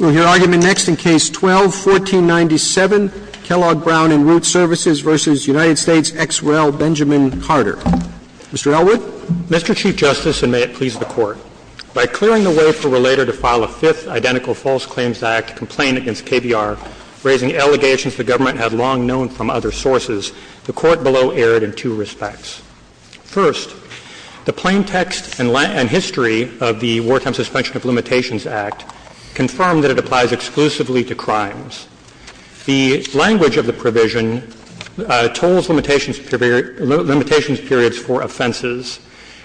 We'll hear argument next in Case 12-1497, Kellogg Brown & Root Services v. United States, ex rel., Benjamin Carter. Mr. Elwood. Mr. Chief Justice, and may it please the Court, by clearing the way for a relator to file a fifth identical false claims act complaint against KBR, raising allegations the government had long known from other sources, the Court below erred in two respects. First, the plain text and history of the Wartime Suspension of Limitations Act confirmed that it applies exclusively to crimes. The language of the provision tolls limitations periods for offenses.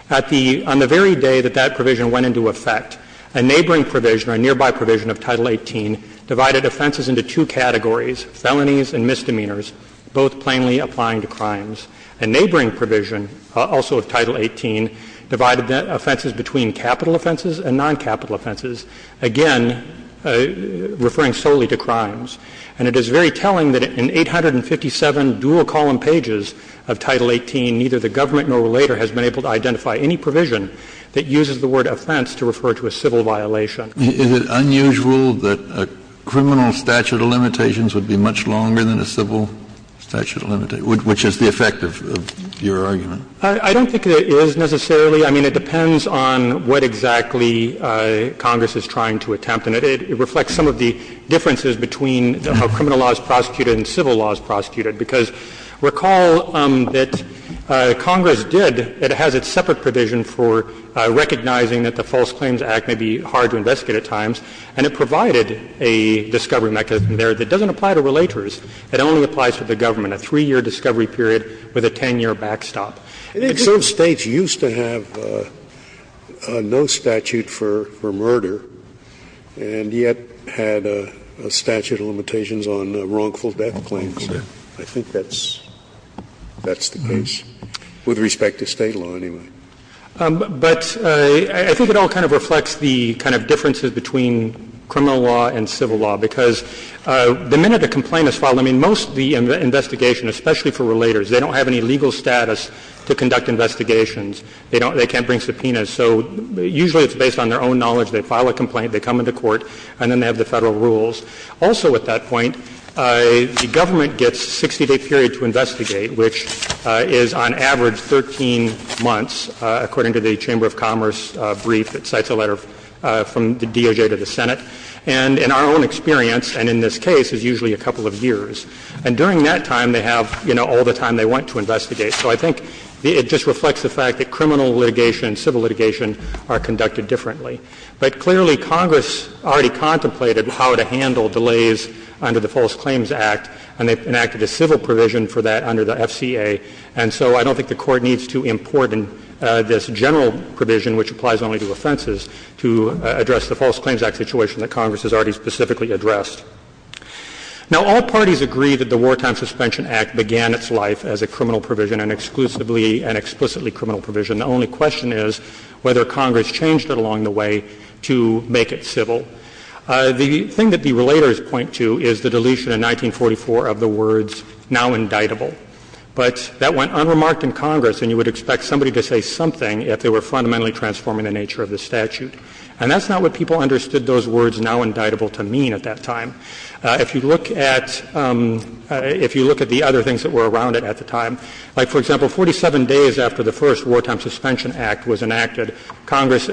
On the very day that that provision went into effect, a neighboring provision or a nearby provision of Title 18 divided offenses into two categories, felonies and misdemeanors, both plainly applying to crimes. A neighboring provision also of Title 18 divided offenses between capital offenses and non-capital offenses, again referring solely to crimes. And it is very telling that in 857 dual-column pages of Title 18, neither the government nor a relator has been able to identify any provision that uses the word offense to refer to a civil violation. Is it unusual that a criminal statute of limitations would be much longer than a civil statute of limitations, which is the effect of your argument? I don't think it is necessarily. I mean, it depends on what exactly Congress is trying to attempt. And it reflects some of the differences between how criminal law is prosecuted and civil law is prosecuted. Because recall that Congress did – it has its separate provision for recognizing that the False Claims Act may be hard to investigate at times, and it provided a discovery mechanism there that doesn't apply to relators. It only applies to the government, a 3-year discovery period with a 10-year backstop. I think some States used to have no statute for murder, and yet had a statute of limitations on wrongful death claims. I think that's the case, with respect to State law, anyway. But I think it all kind of reflects the kind of differences between criminal law and civil law, because the minute a complaint is filed, I mean, most of the investigation, especially for relators, they don't have any legal status to conduct investigations. They don't – they can't bring subpoenas. So usually it's based on their own knowledge. They file a complaint, they come into court, and then they have the Federal rules. Also at that point, the government gets a 60-day period to investigate, which is on average 13 months, according to the Chamber of Commerce brief. It cites a letter from the DOJ to the Senate. And in our own experience, and in this case, it's usually a couple of years. And during that time, they have, you know, all the time they want to investigate. So I think it just reflects the fact that criminal litigation and civil litigation are conducted differently. But clearly, Congress already contemplated how to handle delays under the False Claims Act, and they enacted a civil provision for that under the FCA. And so I don't think the Court needs to import this general provision, which applies only to offenses, to address the False Claims Act situation that Congress has already specifically addressed. Now, all parties agree that the Wartime Suspension Act began its life as a criminal provision, an exclusively and explicitly criminal provision. The only question is whether Congress changed it along the way to make it civil. The thing that the relators point to is the deletion in 1944 of the words, now indictable. But that went unremarked in Congress, and you would expect somebody to say something if they were fundamentally transforming the nature of the statute. And that's not what people understood those words, now indictable, to mean at that time. If you look at the other things that were around it at the time, like, for example, 47 days after the first Wartime Suspension Act was enacted, Congress,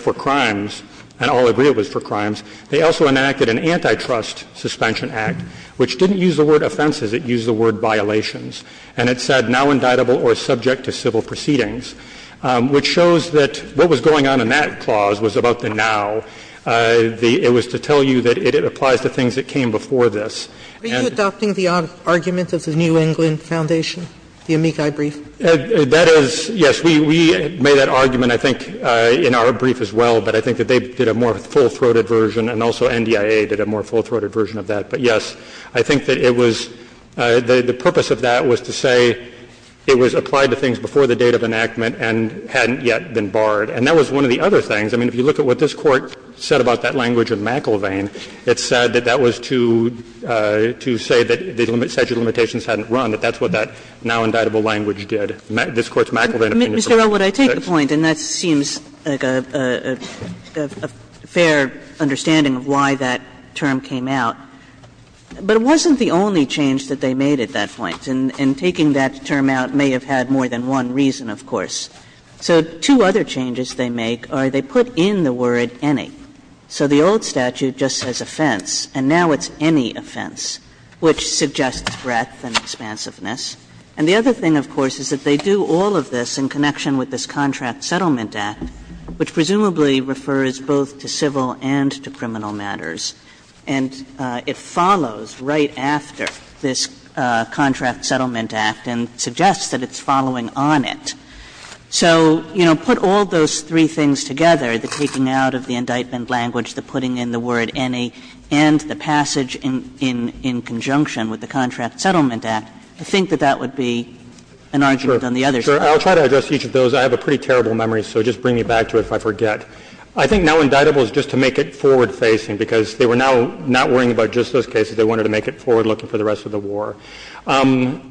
for crimes — and all agree it was for crimes — they also enacted an antitrust suspension act, which didn't use the word offenses. It used the word violations. And it said, now indictable or subject to civil proceedings, which shows that what was going on in that clause was about the now. It was to tell you that it applies to things that came before this. And the other thing is that it was about the now. Sotomayor, are you adopting the argument of the New England Foundation, the Amici brief? That is, yes. We made that argument, I think, in our brief as well, but I think that they did a more full-throated version, and also NDIA did a more full-throated version of that. But, yes, I think that it was — the purpose of that was to say it was applied to things before the date of enactment and hadn't yet been barred. And that was one of the other things. I mean, if you look at what this Court said about that language of McIlvain, it said that that was to say that the statute of limitations hadn't run, that that's what that now indictable language did. This Court's McIlvain opinion is a little different. Kagan. Kagan. Kagan. But Mr. Elwood, I take the point, and that seems like a fair understanding of why that term came out, but it wasn't the only change that they made at that point, and taking that term out may have had more than one reason, of course. So, two other changes they make are they put in the word any. They put it in conjunction with this Contract Settlement Act, which presumably refers both to civil and to criminal matters, and it follows right after this Contract Settlement Act and suggests that it's following on it. So, you know, put all those three things together, the taking out of the indictment language, the putting in the word any, and the passage in conjunction with the Contract Settlement Act, I think that that would be an argument on the other side. I'll try to address each of those. I have a pretty terrible memory, so just bring me back to it if I forget. I think now indictable is just to make it forward-facing, because they were now not worrying about just those cases. They wanted to make it forward-looking for the rest of the war.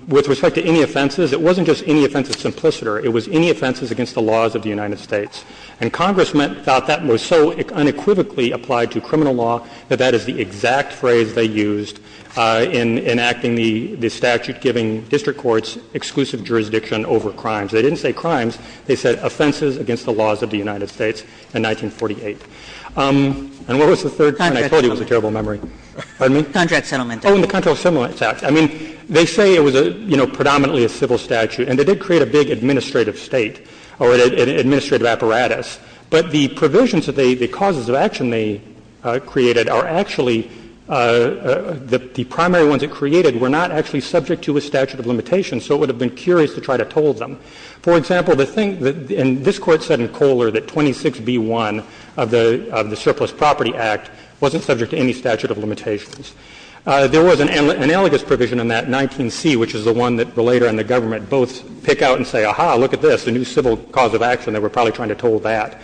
With respect to any offenses, it wasn't just any offense that's implicit, or it was any offenses against the laws of the United States. And Congress thought that was so unequivocally applied to criminal law that that is the exact phrase they used in enacting the statute giving district courts exclusive jurisdiction over crimes. They didn't say crimes. They said offenses against the laws of the United States in 1948. And what was the third? And I told you it was a terrible memory. Pardon me? Contract Settlement Act. Oh, and the Contract Settlement Act. I mean, they say it was a, you know, predominantly a civil statute, and they did create a big administrative state or an administrative apparatus. But the provisions that they — the causes of action they created are actually — the primary ones it created were not actually subject to a statute of limitation, so it would have been curious to try to toll them. For example, the thing — and this Court said in Kohler that 26b-1 of the — of the Surplus Property Act wasn't subject to any statute of limitations. There was an analogous provision in that, 19c, which is the one that Bolayder and the government both pick out and say, aha, look at this, a new civil cause of action. They were probably trying to toll that.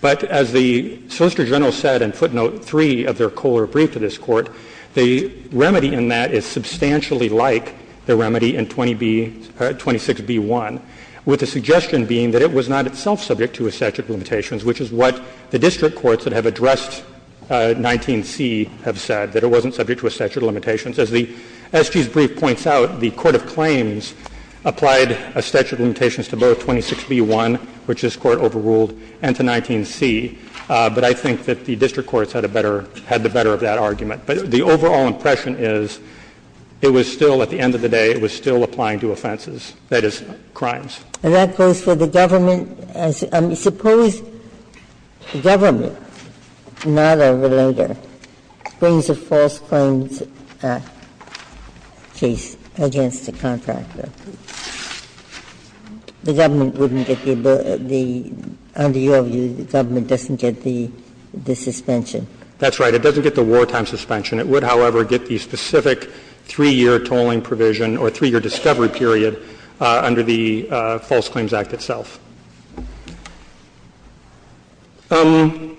But as the Solicitor General said in footnote 3 of their Kohler brief to this Court, the remedy in that is substantially like the remedy in 20b — 26b-1, with the suggestion being that it was not itself subject to a statute of limitations, which is what the district courts that have addressed 19c have said, that it wasn't subject to a statute of limitations. As the — as his brief points out, the court of claims applied a statute of limitations to both 26b-1, which this Court overruled, and to 19c. But I think that the district courts had a better — had the better of that argument. But the overall impression is it was still, at the end of the day, it was still applying to offenses, that is, crimes. Ginsburg. And that goes for the government as — I mean, suppose the government, not a relator, brings a false claims case against the contractor. The government wouldn't get the ability — the — under your view, the government doesn't get the suspension. That's right. It doesn't get the wartime suspension. It would, however, get the specific 3-year tolling provision or 3-year discovery period under the False Claims Act itself. And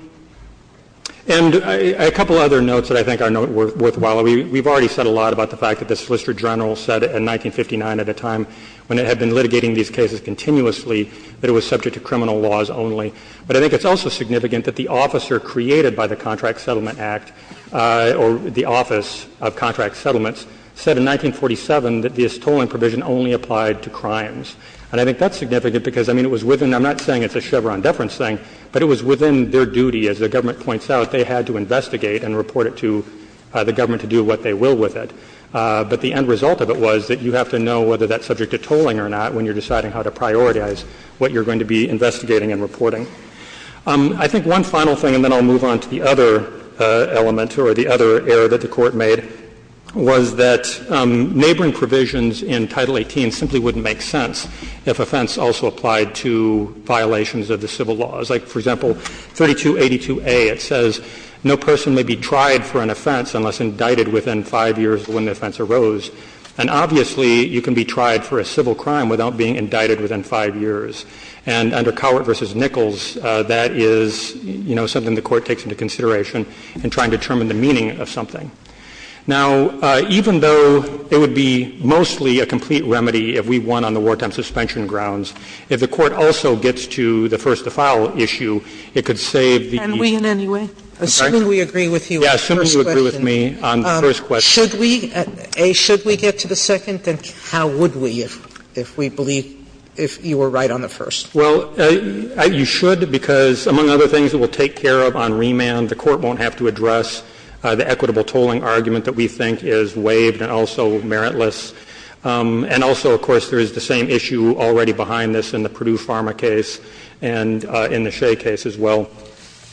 a couple other notes that I think are worthwhile. We've already said a lot about the fact that the Solicitor General said in 1959, at a time when it had been litigating these cases continuously, that it was subject to criminal laws only. But I think it's also significant that the officer created by the Contract Settlement Act or the Office of Contract Settlements said in 1947 that this tolling provision only applied to crimes. And I think that's significant because, I mean, it was within — I'm not saying it's a Chevron deference thing, but it was within their duty, as the government points out, they had to investigate and report it to the government to do what they will with it. But the end result of it was that you have to know whether that's subject to tolling or not when you're deciding how to prioritize what you're going to be investigating and reporting. I think one final thing, and then I'll move on to the other element or the other error that the Court made, was that neighboring provisions in Title 18 simply wouldn't make sense if offense also applied to violations of the civil laws. Like, for example, 3282A, it says no person may be tried for an offense unless indicted within five years when the offense arose. And obviously, you can be tried for a civil crime without being indicted within five years. And under Cowart v. Nichols, that is, you know, something the Court takes into consideration in trying to determine the meaning of something. Now, even though it would be mostly a complete remedy if we won on the wartime suspension grounds, if the Court also gets to the first to file issue, it could save the easy way. Sotomayor, and we in any way? As soon as we agree with you on the first question. Yeah, as soon as you agree with me on the first question. Should we — A, should we get to the second? Then how would we if we believe if you were right on the first? Well, you should because, among other things, it will take care of on remand. The Court won't have to address the equitable tolling argument that we think is waived and also meritless. And also, of course, there is the same issue already behind this in the Purdue Pharma case and in the Shea case as well.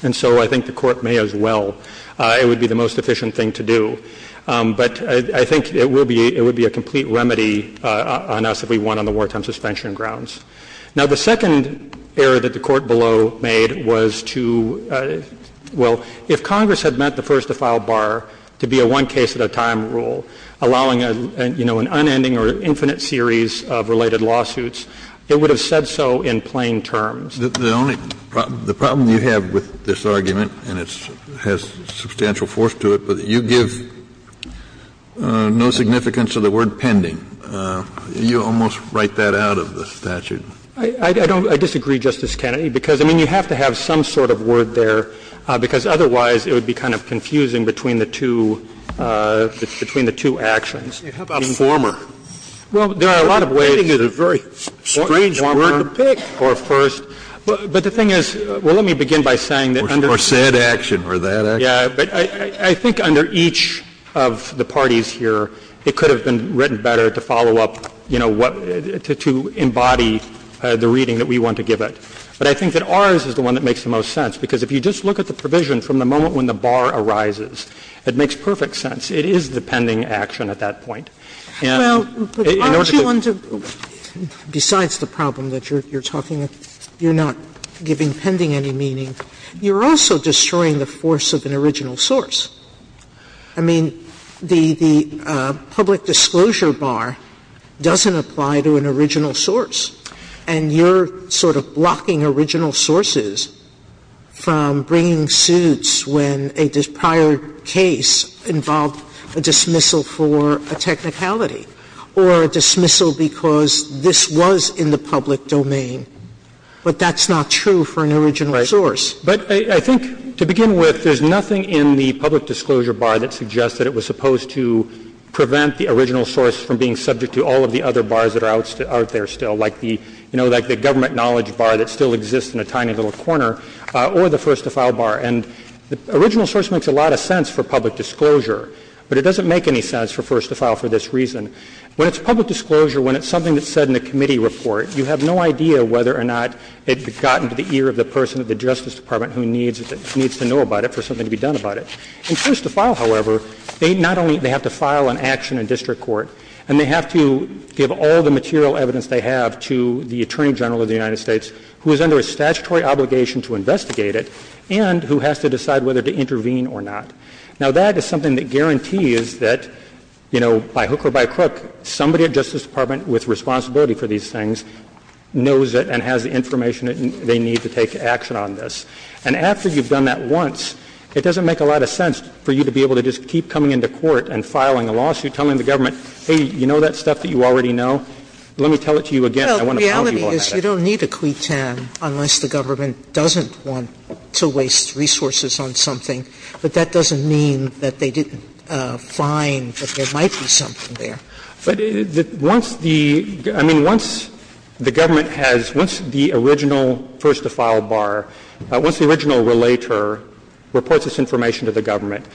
And so I think the Court may as well. It would be the most efficient thing to do. But I think it will be — it would be a complete remedy on us if we won on the wartime suspension grounds. Now, the second error that the Court below made was to — well, if Congress had meant the first-to-file bar to be a one-case-at-a-time rule, allowing, you know, an unending or infinite series of related lawsuits, it would have said so in plain terms. The only — the problem you have with this argument, and it has substantial force to it, but you give no significance to the word pending. You almost write that out of the statute. I don't — I disagree, Justice Kennedy, because, I mean, you have to have some sort of word there, because otherwise it would be kind of confusing between the two — between the two actions. How about former? Well, there are a lot of ways. Pending is a very strange word to pick. Or first. But the thing is — well, let me begin by saying that under — Or said action or that action. Yeah, but I think under each of the parties here, it could have been written better to follow up, you know, what — to embody the reading that we want to give it. But I think that ours is the one that makes the most sense, because if you just look at the provision from the moment when the bar arises, it makes perfect sense. It is the pending action at that point. And in order to — Well, but aren't you on to — besides the problem that you're talking — you're not giving pending any meaning, you're also destroying the force of an original source. I mean, the public disclosure bar doesn't apply to an original source, and you're sort of blocking original sources from bringing suits when a prior case involved a dismissal for a technicality or a dismissal because this was in the public domain. But that's not true for an original source. Right. But I think to begin with, there's nothing in the public disclosure bar that suggests that it was supposed to prevent the original source from being subject to all of the other bars that are out there still, like the — you know, like the government knowledge bar that still exists in a tiny little corner, or the first-to-file bar. And the original source makes a lot of sense for public disclosure, but it doesn't make any sense for first-to-file for this reason. When it's public disclosure, when it's something that's said in a committee report, you have no idea whether or not it got into the ear of the person at the Justice Department who needs to know about it for something to be done about it. In first-to-file, however, they not only — they have to file an action in district court, and they have to give all the material evidence they have to the Attorney General of the United States, who is under a statutory obligation to investigate it, and who has to decide whether to intervene or not. Now, that is something that guarantees that, you know, by hook or by crook, somebody at Justice Department with responsibility for these things knows it and has the information they need to take action on this. And after you've done that once, it doesn't make a lot of sense for you to be able to just keep coming into court and filing a lawsuit, telling the government, hey, you know that stuff that you already know? Let me tell it to you again, and I want to pound you on that. Sotomayor Well, the reality is you don't need a quid tan unless the government doesn't want to waste resources on something, but that doesn't mean that they didn't find that there might be something there. But once the – I mean, once the government has – once the original first-to-file bar, once the original relator reports this information to the government,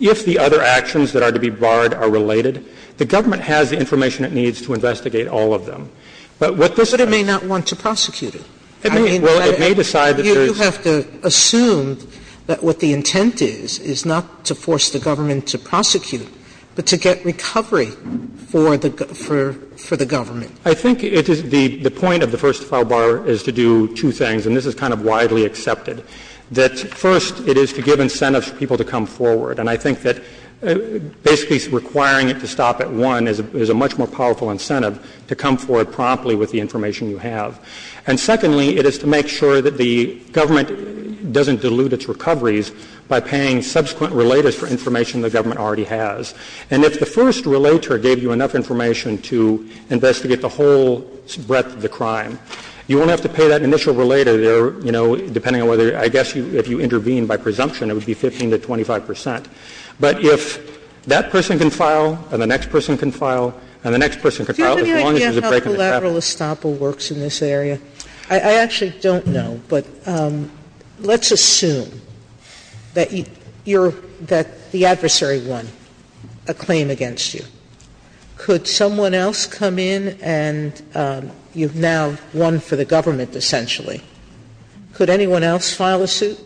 if the other actions that are to be barred are related, the government has the information it needs to investigate all of them. But what this does is it's not going to be a case of, well, you know, you know, I don't know. Sotomayor You have to assume that what the intent is, is not to force the government to investigate and to prosecute, but to get recovery for the – for the government. I think it is the point of the first-to-file bar is to do two things, and this is kind of widely accepted, that, first, it is to give incentives for people to come forward. And I think that basically requiring it to stop at one is a much more powerful incentive to come forward promptly with the information you have. And secondly, it is to make sure that the government doesn't dilute its recoveries by paying subsequent relators for information the government already has. And if the first relator gave you enough information to investigate the whole breadth of the crime, you won't have to pay that initial relator, you know, depending on whether – I guess if you intervene by presumption, it would be 15 to 25 percent. But if that person can file and the next person can file and the next person can file, as long as there's a break in the traffic. Sotomayor, I don't know if General Estoppel works in this area. I actually don't know, but let's assume that you're – that the adversary won a claim against you. Could someone else come in and you've now won for the government, essentially? Could anyone else file a suit,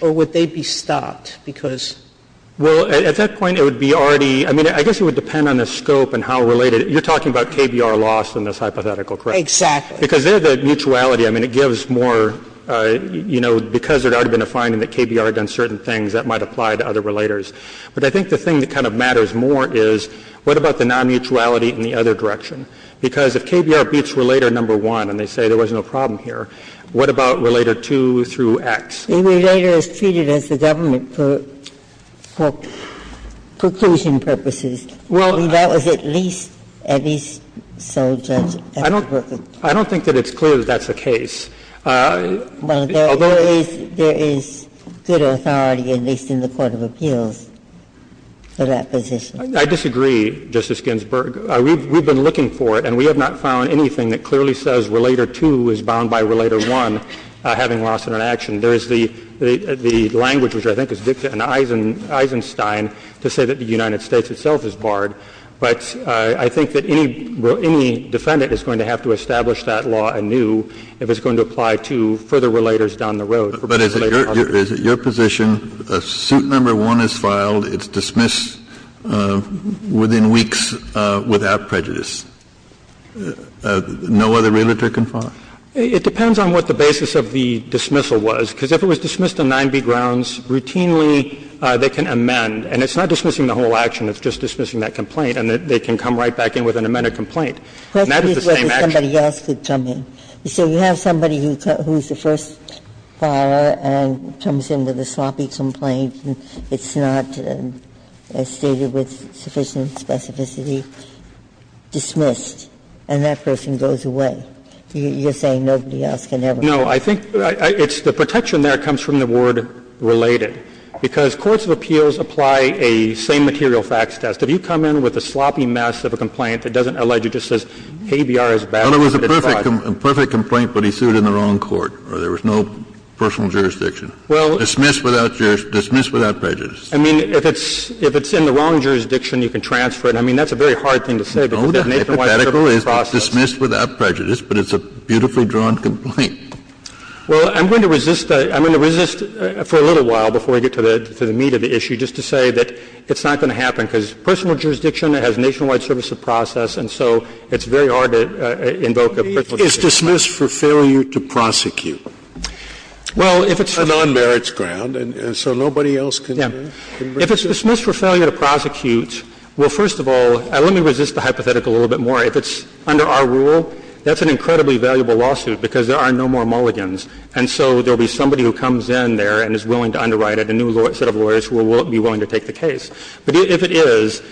or would they be stopped because – Well, at that point, it would be already – I mean, I guess it would depend on the scope and how related – you're talking about KBR loss in this hypothetical case, correct? Exactly. Because there, the mutuality, I mean, it gives more – you know, because there had already been a finding that KBR had done certain things, that might apply to other relators. But I think the thing that kind of matters more is what about the nonmutuality in the other direction? Because if KBR beats Relator No. 1 and they say there was no problem here, what about Relator 2 through X? The relator is treated as the government for – for preclusion purposes. Well, that was at least – at least so, Judge Eckerberg. I don't think that it's clear that that's the case. Although there is good authority, at least in the court of appeals, for that position. I disagree, Justice Ginsburg. We've been looking for it, and we have not found anything that clearly says Relator 2 is bound by Relator 1, having loss in an action. There is the language, which I think is dictated in Eisenstein, to say that the United States itself is barred. But I think that any – any defendant is going to have to establish that law anew if it's going to apply to further relators down the road. But is it your – is it your position, suit No. 1 is filed, it's dismissed within weeks without prejudice. No other relator can file it? It depends on what the basis of the dismissal was. Because if it was dismissed on 9b grounds, routinely they can amend. And it's not dismissing the whole action. It's just dismissing that complaint, and they can come right back in with an amended complaint. And that is the same action. Ginsburg's question is whether somebody else could come in. You say you have somebody who's the first filer and comes in with a sloppy complaint and it's not stated with sufficient specificity, dismissed, and that person goes away. You're saying nobody else can ever come in. No. I think it's the protection there comes from the word related. Because courts of appeals apply a same-material facts test. If you come in with a sloppy mess of a complaint that doesn't allege, it just says KBR is valid, but it's not. Well, it was a perfect complaint, but he sued in the wrong court, or there was no personal jurisdiction. Well – Dismissed without – dismissed without prejudice. I mean, if it's in the wrong jurisdiction, you can transfer it. I mean, that's a very hard thing to say, because it's an 8-1-1 process. No, the hypothetical is dismissed without prejudice, but it's a beautifully drawn complaint. Well, I'm going to resist – I'm going to resist for a little while before we get to the meat of the issue, just to say that it's not going to happen, because personal jurisdiction has nationwide service of process, and so it's very hard to invoke a personal jurisdiction. It's dismissed for failure to prosecute. Well, if it's for – On non-merits ground, and so nobody else can – Yeah. If it's dismissed for failure to prosecute, well, first of all, let me resist the hypothetical a little bit more. If it's under our rule, that's an incredibly valuable lawsuit, because there are no more mulligans, and so there will be somebody who comes in there and is willing to underwrite it, a new set of lawyers who will be willing to take the case. But if it is,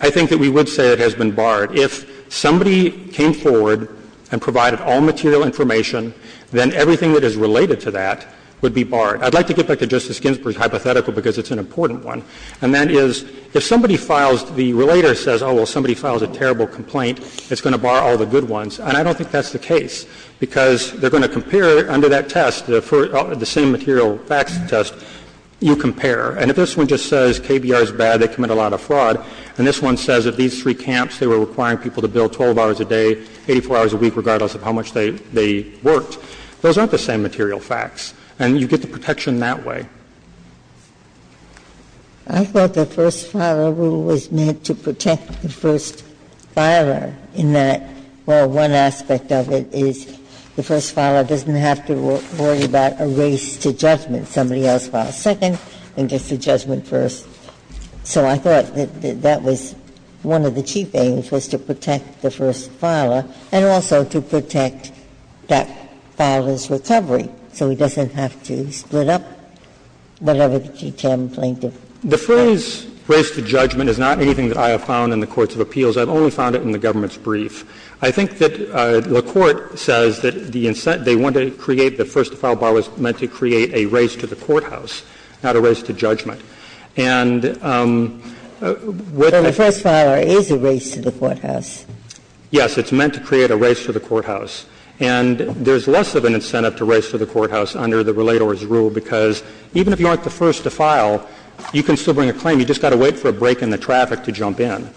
I think that we would say it has been barred. If somebody came forward and provided all material information, then everything that is related to that would be barred. I'd like to get back to Justice Ginsburg's hypothetical, because it's an important one, and that is, if somebody files – the relator says, oh, well, somebody files a terrible complaint, it's going to bar all the good ones, and I don't think that's the case, because they're going to compare under that test, the same material facts test, you compare. And if this one just says KBR is bad, they commit a lot of fraud, and this one says that these three camps, they were requiring people to bill 12 hours a day, 84 hours a week, regardless of how much they worked, those aren't the same material facts, and you get the protection that way. I thought the first-filer rule was meant to protect the first-filer in that, well, one aspect of it is the first-filer doesn't have to worry about a race to judgment. Somebody else files second and gets the judgment first. So I thought that that was one of the chief aims, was to protect the first-filer and also to protect that filer's recovery, so he doesn't have to split up whatever the two camps claim to protect. The phrase, race to judgment, is not anything that I have found in the courts of appeals. I've only found it in the government's brief. I think that the Court says that the incentive they wanted to create, the first-filer was meant to create a race to the courthouse, not a race to judgment. And with the first-filer is a race to the courthouse. Yes, it's meant to create a race to the courthouse. And there's less of an incentive to race to the courthouse under the relator's rule, because even if you aren't the first to file, you can still bring a claim. You just got to wait for a break in the traffic to jump in.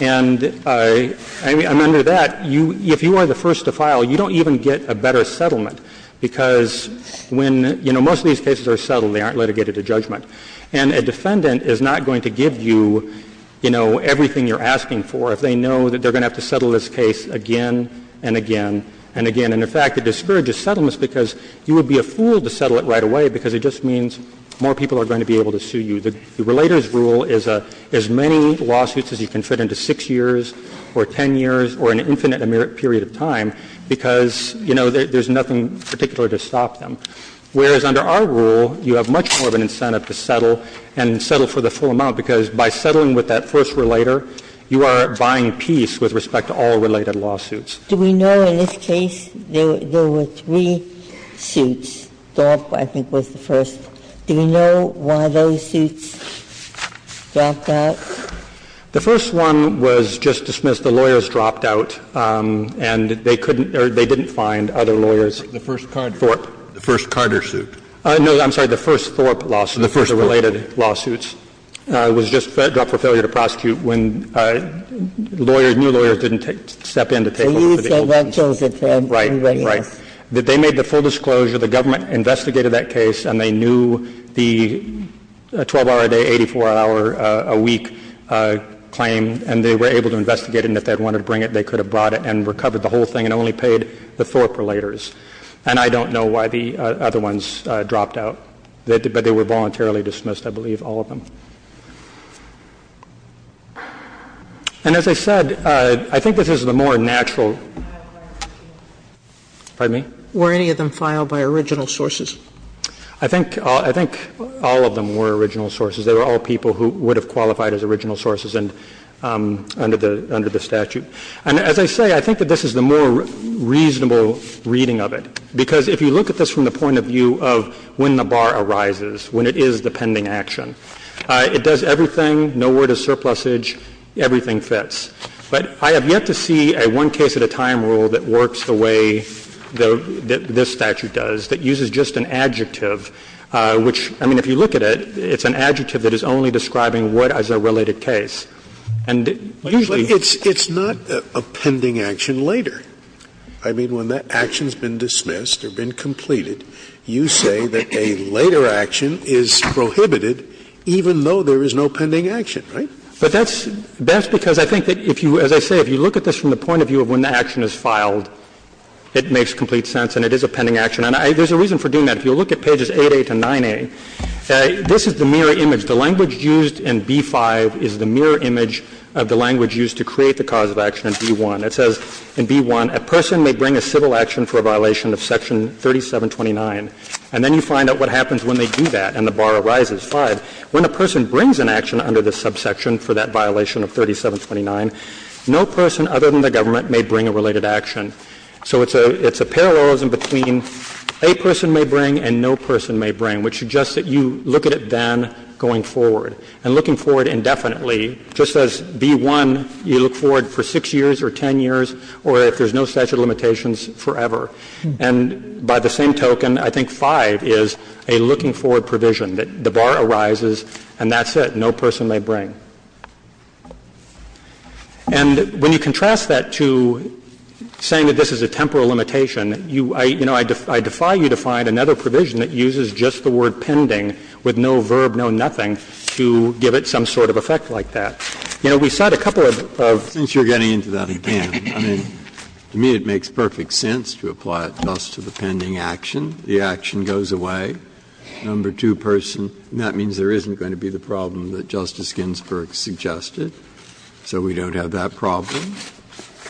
And I'm under that. If you are the first to file, you don't even get a better settlement, because when — you know, most of these cases are settled. They aren't litigated to judgment. And a defendant is not going to give you, you know, everything you're asking for if they know that they're going to have to settle this case again and again and again. And, in fact, it discourages settlements because you would be a fool to settle it right away because it just means more people are going to be able to sue you. The relator's rule is as many lawsuits as you can fit into 6 years or 10 years or an infinite period of time because, you know, there's nothing particular to stop them. Whereas under our rule, you have much more of an incentive to settle and settle for the full amount, because by settling with that first relator, you are buying peace with respect to all related lawsuits. Ginsburg. Do we know in this case there were three suits? Thorpe, I think, was the first. Do we know why those suits dropped out? The first one was just dismissed. The lawyers dropped out, and they couldn't — or they didn't find other lawyers. The first Carter suit. No, I'm sorry. The first Thorpe lawsuit, the first related lawsuits, was just dropped for failure to prosecute when lawyers — new lawyers didn't step in to take over the old ones. So you said that chose it for everybody else. Right. Right. And that's the reason why I'm saying that they made the full disclosure, the government investigated that case, and they knew the 12-hour-a-day, 84-hour-a-week claim, and they were able to investigate it. And if they had wanted to bring it, they could have brought it and recovered the whole thing and only paid the Thorpe relators. And I don't know why the other ones dropped out. But they were voluntarily dismissed, I believe, all of them. And as I said, I think this is the more natural — Pardon me? Were any of them filed by original sources? I think — I think all of them were original sources. They were all people who would have qualified as original sources and — under the — under the statute. And as I say, I think that this is the more reasonable reading of it, because if you look at this from the point of view of when the bar arises, when it is the pending action, it does everything, no word of surplusage, everything fits. But I have yet to see a one-case-at-a-time rule that works the way that this statute does, that uses just an adjective, which — I mean, if you look at it, it's an adjective that is only describing what is a related case. And usually — It's not a pending action later. I mean, when that action has been dismissed or been completed, you say that a later action is prohibited even though there is no pending action, right? But that's — that's because I think that if you — as I say, if you look at this from the point of view of when the action is filed, it makes complete sense and it is a pending action. And I — there's a reason for doing that. If you look at pages 8A to 9A, this is the mirror image. The language used in B-5 is the mirror image of the language used to create the cause of action in B-1. It says in B-1, a person may bring a civil action for a violation of Section 3729. And then you find out what happens when they do that, and the bar arises, 5. When a person brings an action under this subsection for that violation of 3729, no person other than the government may bring a related action. So it's a — it's a parallelism between a person may bring and no person may bring, which suggests that you look at it then going forward. And looking forward indefinitely, just as B-1, you look forward for 6 years or 10 years or if there's no statute of limitations, forever. And by the same token, I think 5 is a looking forward provision, that the bar arises and that's it, no person may bring. And when you contrast that to saying that this is a temporal limitation, you — you know, I — I defy you to find another provision that uses just the word pending with no verb, no nothing, to give it some sort of effect like that. You know, we cite a couple of — Breyer. Since you're getting into that again, I mean, to me it makes perfect sense to apply it just to the pending action. The action goes away. Number two person, and that means there isn't going to be the problem that Justice Ginsburg suggested, so we don't have that problem.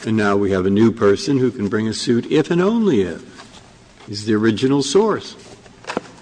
And now we have a new person who can bring a suit if and only if he's the original source.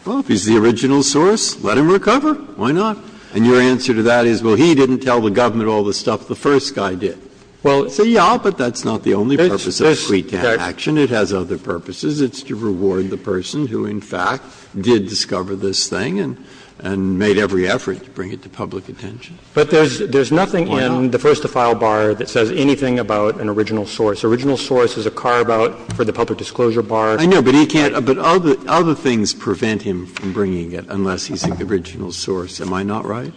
Well, if he's the original source, let him recover. Why not? And your answer to that is, well, he didn't tell the government all the stuff the first guy did. Well, so yeah, but that's not the only purpose of suite action. It has other purposes. It's to reward the person who, in fact, did discover this thing and — and made every effort to bring it to public attention. But there's nothing in the first-to-file bar that says anything about an original source. Original source is a carve-out for the public disclosure bar. I know, but he can't — but other things prevent him from bringing it unless he's the original source. Am I not right?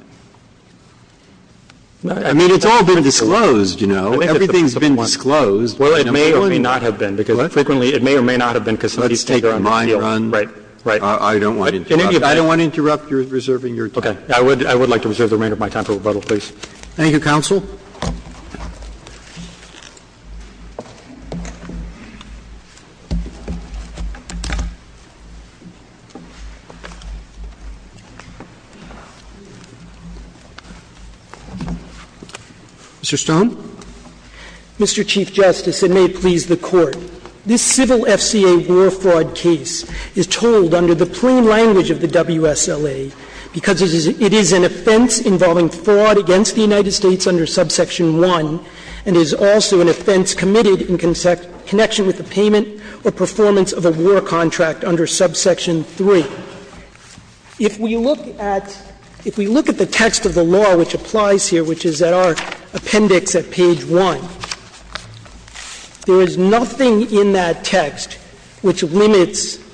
I mean, it's all been disclosed, you know. Everything's been disclosed. Well, it may or may not have been, because frequently it may or may not have been because somebody's taken on the deal. Let's take a mind run. Right. Right. I don't want to interrupt. I don't want to interrupt. You're reserving your time. I would like to reserve the remainder of my time for rebuttal, please. Thank you, counsel. Mr. Stone. Mr. Chief Justice, and may it please the Court, this civil FCA war fraud case is told under the plain language of the WSLA because it is an offense involving fraud against the United States under subsection 1 and is also an offense committed in connection with the payment or performance of a war contract under subsection 3. If we look at — if we look at the text of the law which applies here, which is at our appendix at page 1, there is nothing in that text which limits —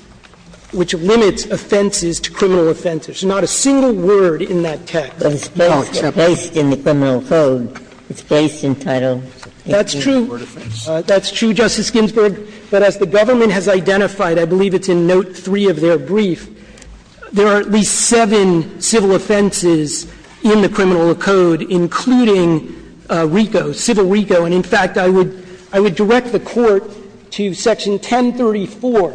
which limits offenses to criminal offenses. Not a single word in that text. It's based in the criminal code. It's based in Title — That's true. That's true, Justice Ginsburg. But as the government has identified, I believe it's in note 3 of their brief, there are at least seven civil offenses in the criminal code, including RICO, civil RICO. And, in fact, I would — I would direct the Court to section 1034,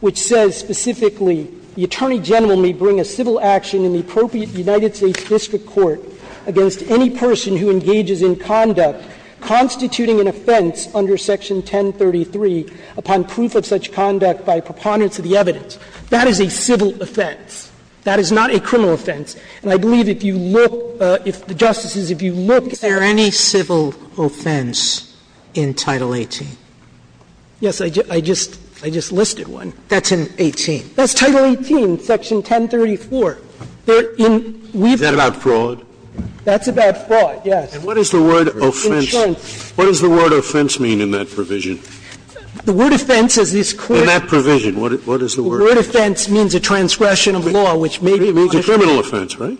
which says specifically the attorney general may bring a civil action in the appropriate United States district court against any person who engages in conduct constituting an offense under section 1033 upon proof of such conduct by preponderance of the evidence. That is a civil offense. That is not a criminal offense. And I believe if you look — if the justices, if you look at the — Is there any civil offense in Title 18? Yes. I just — I just listed one. That's in 18. That's Title 18, section 1034. They're in — Is that about fraud? That's about fraud, yes. And what is the word offense? What does the word offense mean in that provision? The word offense is this Court — In that provision. What is the word offense? The word offense means a transgression of law, which may be — It means a criminal offense, right?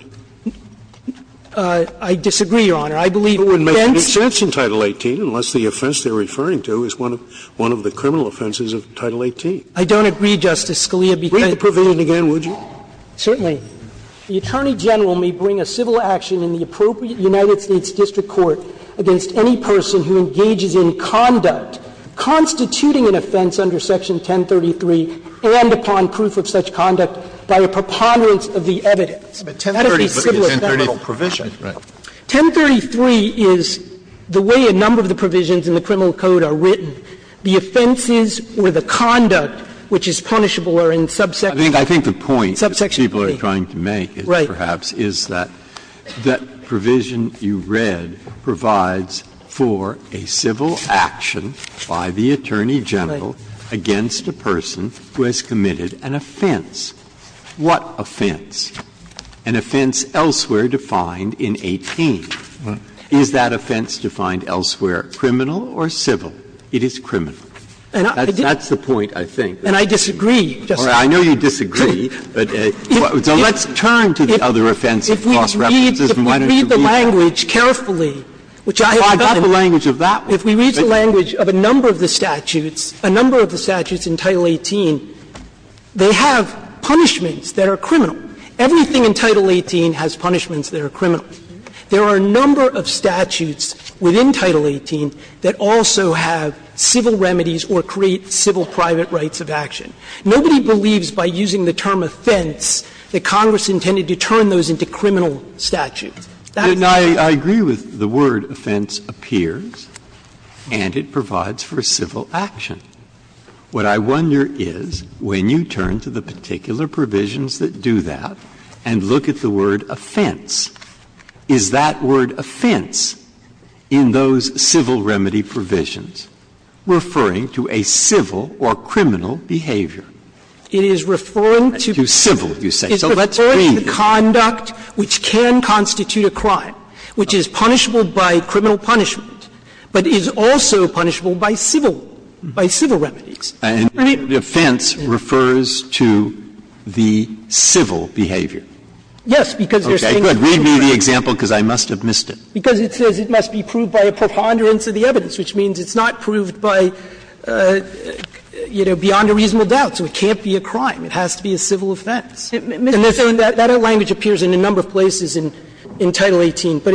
I disagree, Your Honor. I believe offense — It wouldn't make any sense in Title 18 unless the offense they're referring to is one of — one of the criminal offenses of Title 18. I don't agree, Justice Scalia, because — Read the provision again, would you? Certainly. The attorney general may bring a civil action in the appropriate United States district court against any person who engages in conduct constituting an offense under section 1033 and upon proof of such conduct by a preponderance of the evidence. That is the civil or federal provision. 1033 is the way a number of the provisions in the criminal code are written. The offenses or the conduct which is punishable are in subsection P. I think the point that people are trying to make is perhaps is that that provision you read provides for a civil action by the attorney general against a person who has committed an offense. What offense? An offense elsewhere defined in 18. Is that offense defined elsewhere criminal or civil? It is criminal. That's the point, I think. And I disagree, Justice Breyer. I know you disagree, but let's turn to the other offense of cross-references and why don't you read that. If we read the language carefully, which I have done. I've got the language of that one. If we read the language of a number of the statutes, a number of the statutes in Title 18, they have punishments that are criminal. Everything in Title 18 has punishments that are criminal. But there are a number of statutes within Title 18 that also have civil remedies or create civil private rights of action. Nobody believes by using the term offense that Congress intended to turn those That's not true. Breyer, I agree with the word offense appears and it provides for a civil action. What I wonder is when you turn to the particular provisions that do that and look at the word offense, is that word offense in those civil remedy provisions referring to a civil or criminal behavior? It is referring to civil, you say. So let's read it. It is referring to conduct which can constitute a crime, which is punishable by criminal punishment, but is also punishable by civil, by civil remedies. And the offense refers to the civil behavior. Yes, because there's things that are criminal. Okay. Good. Read me the example because I must have missed it. Because it says it must be proved by a preponderance of the evidence, which means it's not proved by, you know, beyond a reasonable doubt. So it can't be a crime. It has to be a civil offense. And that language appears in a number of places in Title 18. But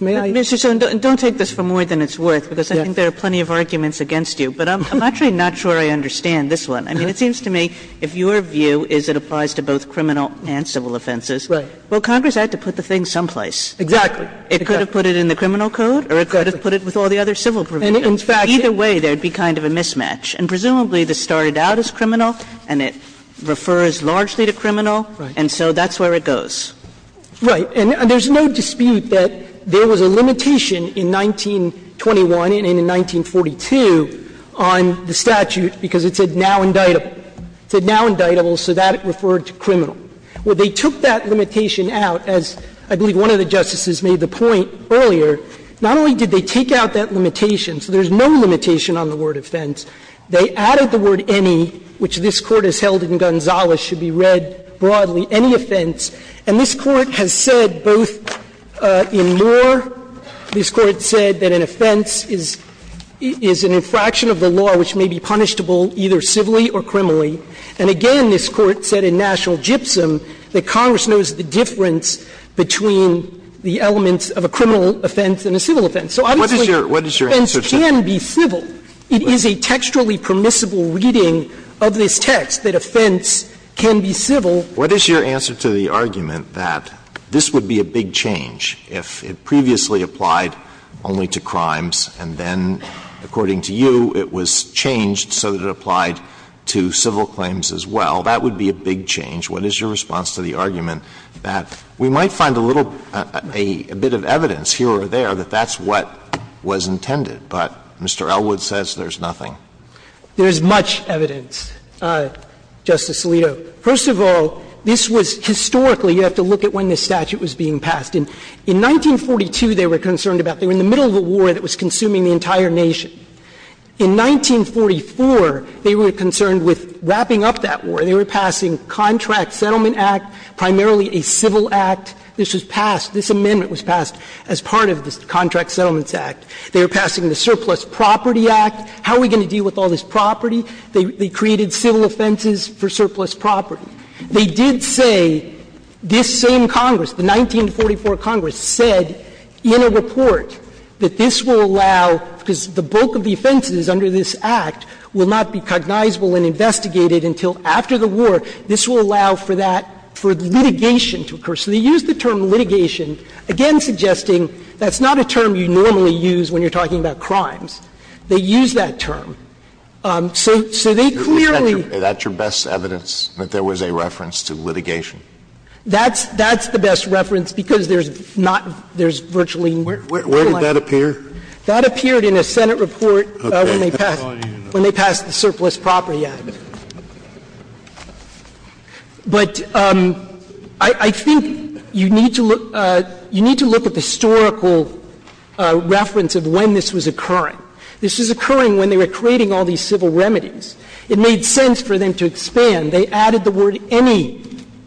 may I? Mr. Sorenson, don't take this for more than it's worth, because I think there are plenty of arguments against you. But I'm actually not sure I understand this one. I mean, it seems to me if your view is it applies to both criminal and civil offenses. Right. Well, Congress had to put the thing someplace. Exactly. It could have put it in the criminal code or it could have put it with all the other civil provisions. In fact, either way there would be kind of a mismatch. And presumably this started out as criminal and it refers largely to criminal. Right. And so that's where it goes. Right. And there's no dispute that there was a limitation in 1921 and in 1942 on the statute because it said now indictable. It said now indictable, so that referred to criminal. Well, they took that limitation out, as I believe one of the justices made the point earlier, not only did they take out that limitation, so there's no limitation on the word offense, they added the word any, which this Court has held in Gonzales should be read broadly, any offense. And this Court has said both in Moore, this Court said that an offense is an infraction of the law which may be punishable either civilly or criminally. And again, this Court said in National Gypsum that Congress knows the difference between the elements of a criminal offense and a civil offense. So obviously offense can be civil. It is a textually permissible reading of this text that offense can be civil. What is your answer to the argument that this would be a big change if it previously applied only to crimes and then, according to you, it was changed so that it applied to civil claims as well? That would be a big change. What is your response to the argument that we might find a little bit of evidence here or there that that's what was intended, but Mr. Elwood says there's nothing? There's much evidence, Justice Alito. First of all, this was historically, you have to look at when this statute was being passed. In 1942, they were concerned about, they were in the middle of a war that was consuming the entire nation. In 1944, they were concerned with wrapping up that war. They were passing Contract Settlement Act, primarily a civil act. This was passed. This amendment was passed as part of the Contract Settlements Act. They were passing the Surplus Property Act. How are we going to deal with all this property? They created civil offenses for surplus property. They did say this same Congress, the 1944 Congress, said in a report that this will allow, because the bulk of the offenses under this Act will not be cognizable and investigated until after the war, this will allow for that, for litigation to occur. So they used the term litigation, again suggesting that's not a term you normally use when you're talking about crimes. They used that term. So they clearly. That's your best evidence that there was a reference to litigation? That's the best reference, because there's not, there's virtually. Where did that appear? That appeared in a Senate report when they passed the Surplus Property Act. But I think you need to look at the historical reference of when this was occurring. This was occurring when they were creating all these civil remedies. It made sense for them to expand. They added the word any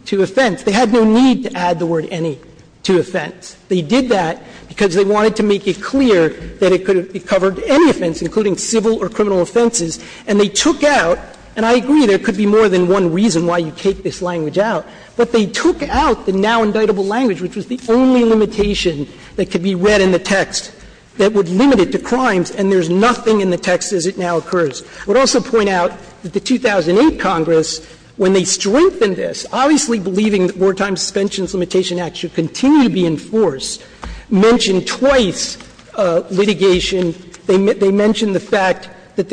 to offense. They had no need to add the word any to offense. They did that because they wanted to make it clear that it could have covered any offense, including civil or criminal offenses, and they took out, and I agree there could be more than one reason why you take this language out, but they took out the now-indictable language, which was the only limitation that could be read in the text that would limit it to crimes, and there's nothing in the text as it now occurs. I would also point out that the 2008 Congress, when they strengthened this, obviously believing that the Wartime Suspensions Limitation Act should continue to be enforced, mentioned twice litigation. They mentioned the fact that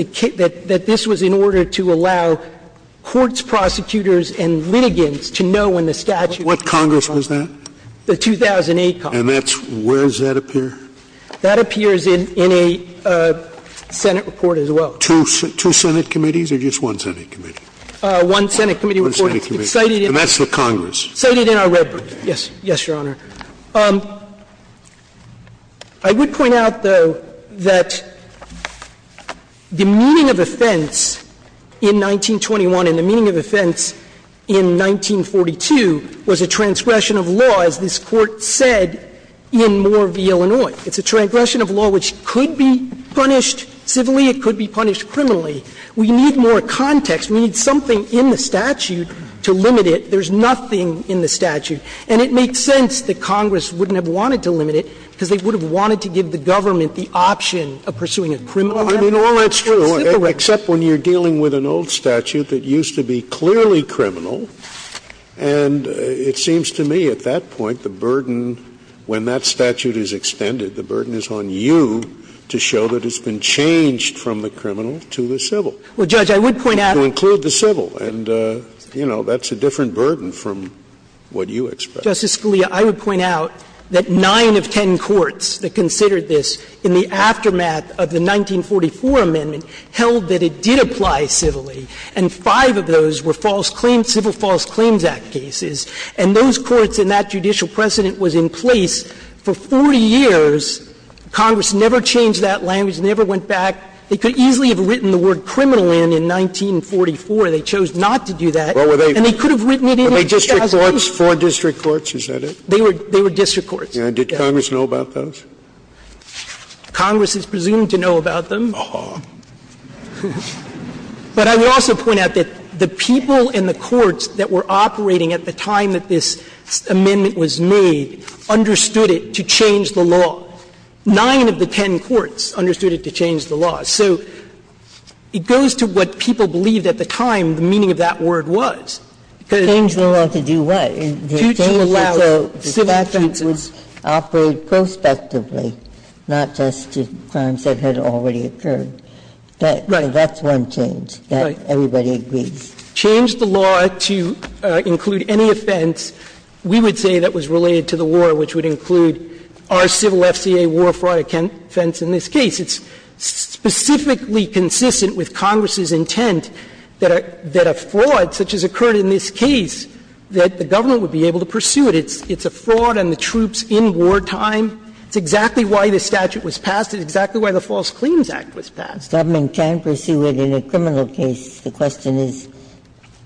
this was in order to allow courts, prosecutors, and litigants to know when the statute was in effect. What Congress was that? The 2008 Congress. And that's, where does that appear? That appears in a Senate report as well. Two Senate committees or just one Senate committee? One Senate committee report. One Senate committee. And that's the Congress. Cited in our red book. Yes. Yes, Your Honor. I would point out, though, that the meaning of offense in 1921 and the meaning of offense in 1942 was a transgression of law, as this Court said, in Moore v. Illinois. It's a transgression of law which could be punished civilly. It could be punished criminally. We need more context. We need something in the statute to limit it. There's nothing in the statute. And it makes sense that Congress wouldn't have wanted to limit it because they would have wanted to give the government the option of pursuing a criminal limit. I mean, all that's true, except when you're dealing with an old statute that used to be clearly criminal. And it seems to me at that point the burden, when that statute is extended, the burden is on you to show that it's been changed from the criminal to the civil. Well, Judge, I would point out. To include the civil. And, you know, that's a different burden from what you expect. Justice Scalia, I would point out that nine of ten courts that considered this in the aftermath of the 1944 amendment held that it did apply civilly, and five of those were false claims, Civil False Claims Act cases. And those courts and that judicial precedent was in place for 40 years. Congress never changed that language, never went back. They could easily have written the word criminal in in 1944. They chose not to do that. And they could have written it in in 2000. Were they district courts, four district courts? Is that it? They were district courts. And did Congress know about those? Congress is presumed to know about them. Oh. But I would also point out that the people in the courts that were operating at the time that this amendment was made understood it to change the law. Nine of the ten courts understood it to change the law. So it goes to what people believed at the time the meaning of that word was. Because it changed the law to do what? To allow civil counsel. So what they had done is to change the law to allow civil counsel to investigate crimes that had occurred, which was operate prospectively, not just to crimes that had already occurred. Right. That's one change. Right. That everybody agrees. Change the law to include any offense we would say that was related to the war which would include our civil FCA war fraud offense in this case. It's specifically consistent with Congress's intent that a fraud such as occurred in this case, that the government would be able to pursue it. It's a fraud on the troops in wartime. It's exactly why the statute was passed. It's exactly why the False Claims Act was passed. Ginsburg. Government can pursue it in a criminal case. The question is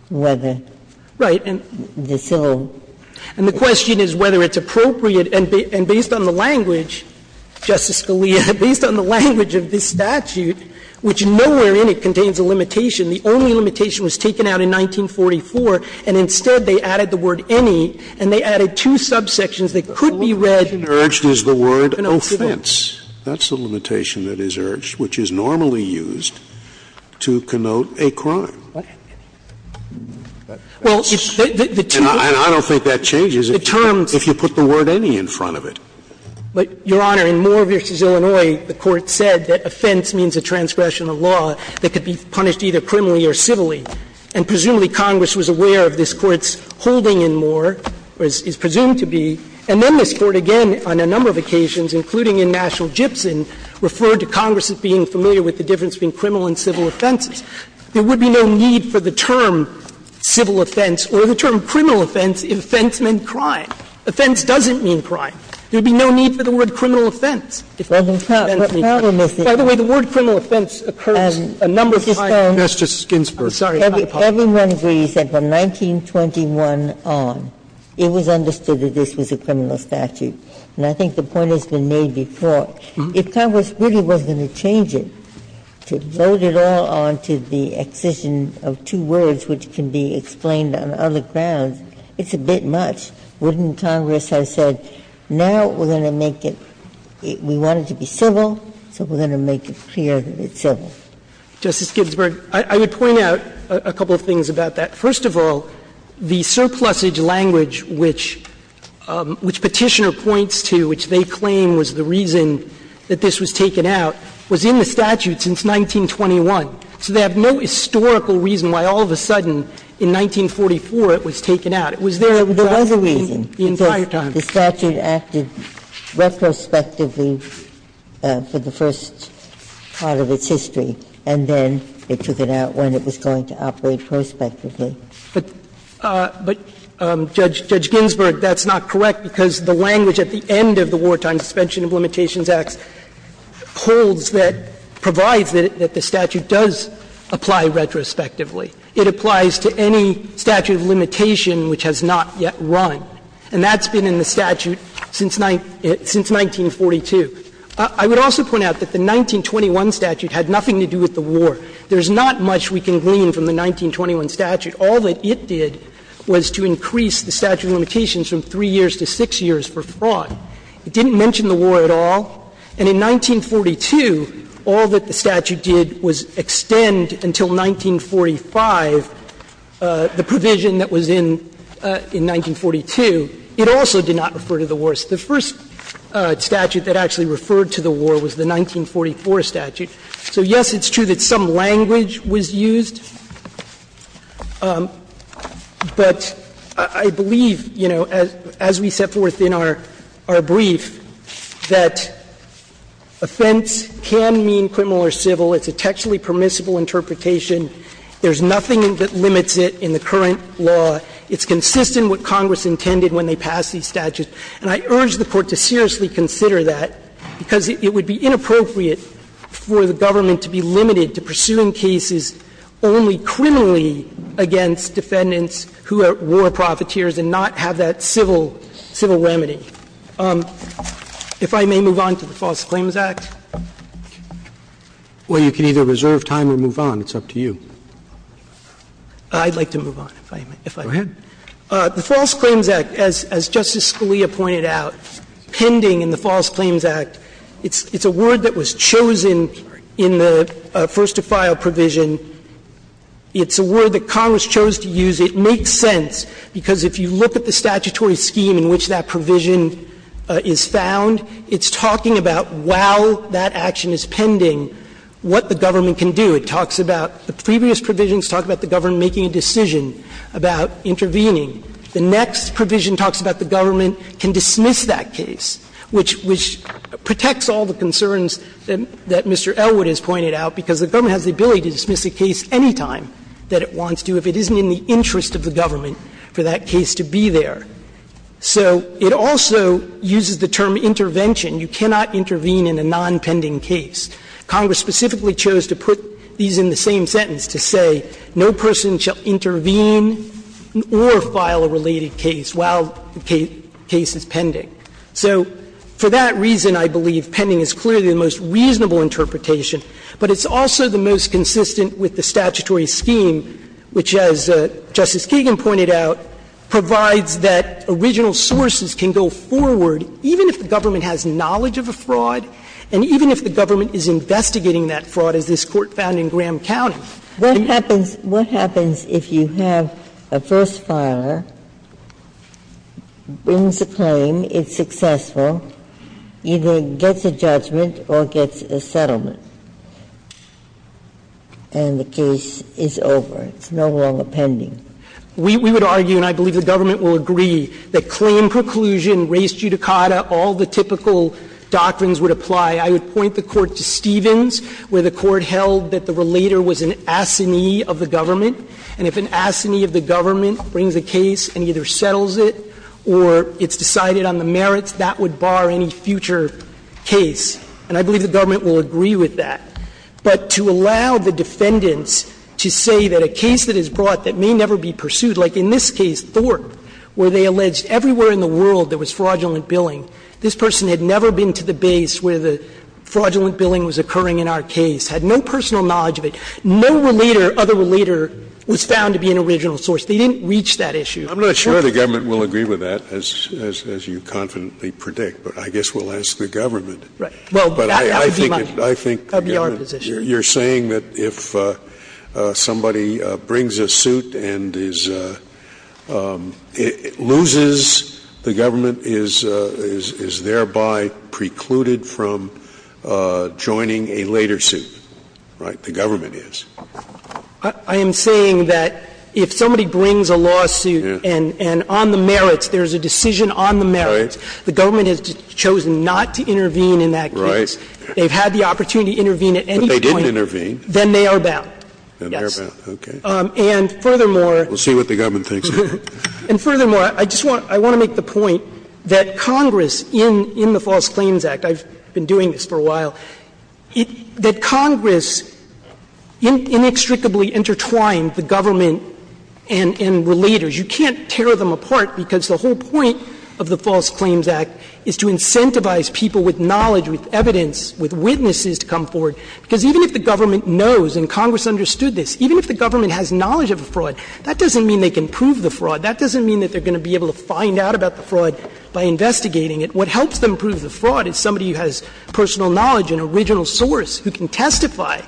whether the civil. Right. And the question is whether it's appropriate. And based on the language, Justice Scalia, based on the language of this statute, which nowhere in it contains a limitation, the only limitation was taken out in 1944, and instead they added the word any, and they added two subsections that could be read. The only limitation urged is the word offense. That's the limitation that is urged, which is normally used to connote a crime. Well, the two. And I don't think that changes. The terms. If you put the word any in front of it. But, Your Honor, in Moore v. Illinois, the Court said that offense means a transgression of law that could be punished either criminally or civilly. And presumably Congress was aware of this Court's holding in Moore, or is presumed to be, and then this Court again on a number of occasions, including in National Gypsum, referred to Congress as being familiar with the difference between criminal and civil offenses. There would be no need for the term civil offense or the term criminal offense if offense meant crime. Offense doesn't mean crime. There would be no need for the word criminal offense if offense meant crime. By the way, the word criminal offense occurs a number of times. Sotomayor, everyone agrees that from 1921 on, it was understood that this was a criminal statute, and I think the point has been made before. If Congress really was going to change it, to load it all onto the excision of two words which can be explained on other grounds, it's a bit much. Wouldn't Congress have said, now we're going to make it, we want it to be civil, so we're going to make it clear that it's civil? Justice Ginsburg, I would point out a couple of things about that. First of all, the surplusage language which Petitioner points to, which they claim was the reason that this was taken out, was in the statute since 1921. So they have no historical reason why all of a sudden, in 1944, it was taken out. It was there directly the entire time. The other reason is the statute acted retrospectively for the first part of its history, and then it took it out when it was going to operate prospectively. But, Judge Ginsburg, that's not correct, because the language at the end of the Wartime Suspension of Limitations Act holds that the statute does apply retrospectively. It applies to any statute of limitation which has not yet run. And that's been in the statute since 1942. I would also point out that the 1921 statute had nothing to do with the war. There's not much we can glean from the 1921 statute. All that it did was to increase the statute of limitations from 3 years to 6 years for fraud. It didn't mention the war at all. And in 1942, all that the statute did was extend until 1945 the provision that was in 1942. It also did not refer to the war. The first statute that actually referred to the war was the 1944 statute. So, yes, it's true that some language was used, but I believe, you know, as we set forth in our brief, that offense can mean criminal or civil. It's a textually permissible interpretation. There's nothing that limits it in the current law. It's consistent with what Congress intended when they passed these statutes. And I urge the Court to seriously consider that, because it would be inappropriate for the government to be limited to pursuing cases only criminally against defendants who are war profiteers and not have that civil remedy. If I may move on to the False Claims Act. Well, you can either reserve time or move on. It's up to you. I'd like to move on, if I may. Go ahead. The False Claims Act, as Justice Scalia pointed out, pending in the False Claims Act, it's a word that was chosen in the first-to-file provision. It's a word that Congress chose to use. It makes sense, because if you look at the statutory scheme in which that provision is found, it's talking about while that action is pending, what the government can do. It talks about the previous provisions talk about the government making a decision about intervening. The next provision talks about the government can dismiss that case, which protects all the concerns that Mr. Elwood has pointed out, because the government has the ability to dismiss a case anytime that it wants to. If it isn't in the interest of the government for that case to be there. So it also uses the term intervention. You cannot intervene in a nonpending case. Congress specifically chose to put these in the same sentence, to say no person shall intervene or file a related case while the case is pending. So for that reason, I believe pending is clearly the most reasonable interpretation, but it's also the most consistent with the statutory scheme, which, as Justice Kagan pointed out, provides that original sources can go forward, even if the government has knowledge of a fraud and even if the government is investigating that fraud, as this Court found in Graham County. Ginsburg. What happens if you have a first filer, brings a claim, it's successful, either gets a judgment or gets a settlement, and the case is over, it's no longer pending? We would argue, and I believe the government will agree, that claim preclusion, res judicata, all the typical doctrines would apply. I would point the Court to Stevens, where the Court held that the relator was an assinee of the government, and if an assinee of the government brings a case and either settles it or it's decided on the merits, that would bar any future case. And I believe the government will agree with that. But to allow the defendants to say that a case that is brought that may never be pursued like in this case, Thorpe, where they alleged everywhere in the world there was fraudulent billing, this person had never been to the base where the fraudulent billing was occurring in our case, had no personal knowledge of it, no relator, other relator, was found to be an original source. They didn't reach that issue. Scalia. I'm not sure the government will agree with that, as you confidently predict, but I guess we'll ask the government. But I think the government, you're saying that if somebody brings a suit and is loses, the government is thereby precluded from joining a later suit, right? The government is. I am saying that if somebody brings a lawsuit and on the merits, there's a decision on the merits, the government has chosen not to intervene in that case. Right. They've had the opportunity to intervene at any point. But they didn't intervene. Then they are bound. Then they are bound. Okay. And furthermore. We'll see what the government thinks of that. And furthermore, I just want to make the point that Congress in the False Claims Act, I've been doing this for a while, that Congress inextricably intertwined the government and relators. You can't tear them apart because the whole point of the False Claims Act is to incentivize people with knowledge, with evidence, with witnesses to come forward. Because even if the government knows, and Congress understood this, even if the government has knowledge of a fraud, that doesn't mean they can prove the fraud. That doesn't mean that they're going to be able to find out about the fraud by investigating it. What helps them prove the fraud is somebody who has personal knowledge, an original source who can testify,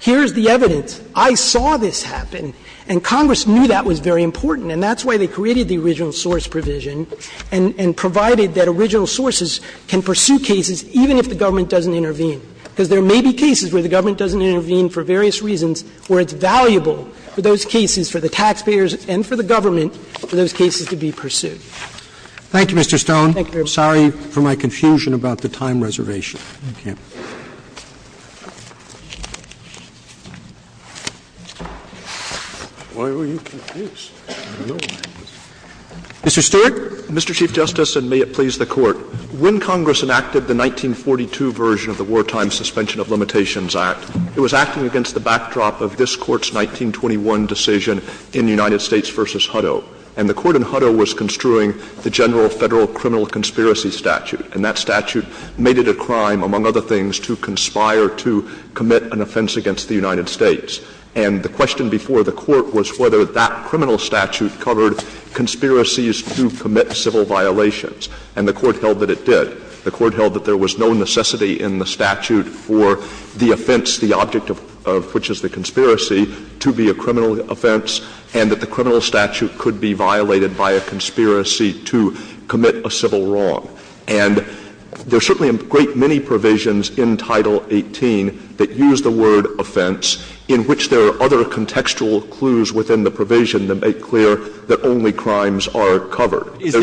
here's the evidence, I saw this happen. And Congress knew that was very important. And that's why they created the original source provision and provided that original sources can pursue cases even if the government doesn't intervene. Because there may be cases where the government doesn't intervene for various reasons where it's valuable for those cases, for the taxpayers and for the government, for those cases to be pursued. Thank you, Mr. Stone. Thank you. Sorry for my confusion about the time reservation. Thank you. Why were you confused? Mr. Stewart. Mr. Chief Justice, and may it please the Court. When Congress enacted the 1942 version of the Wartime Suspension of Limitations Act, it was acting against the backdrop of this Court's 1921 decision in United States v. Hutto. And the Court in Hutto was construing the general Federal criminal conspiracy statute. And that statute made it a crime, among other things, to conspire to commit an offense against the United States. And the question before the Court was whether that criminal statute covered conspiracies to commit civil violations. And the Court held that it did. The Court held that there was no necessity in the statute for the offense, the object of which is the conspiracy, to be a criminal offense, and that the criminal statute could be violated by a conspiracy to commit a civil wrong. And there are certainly a great many provisions in Title 18 that use the word offense, in which there are other contextual clues within the provision that make clear that only crimes are covered. Is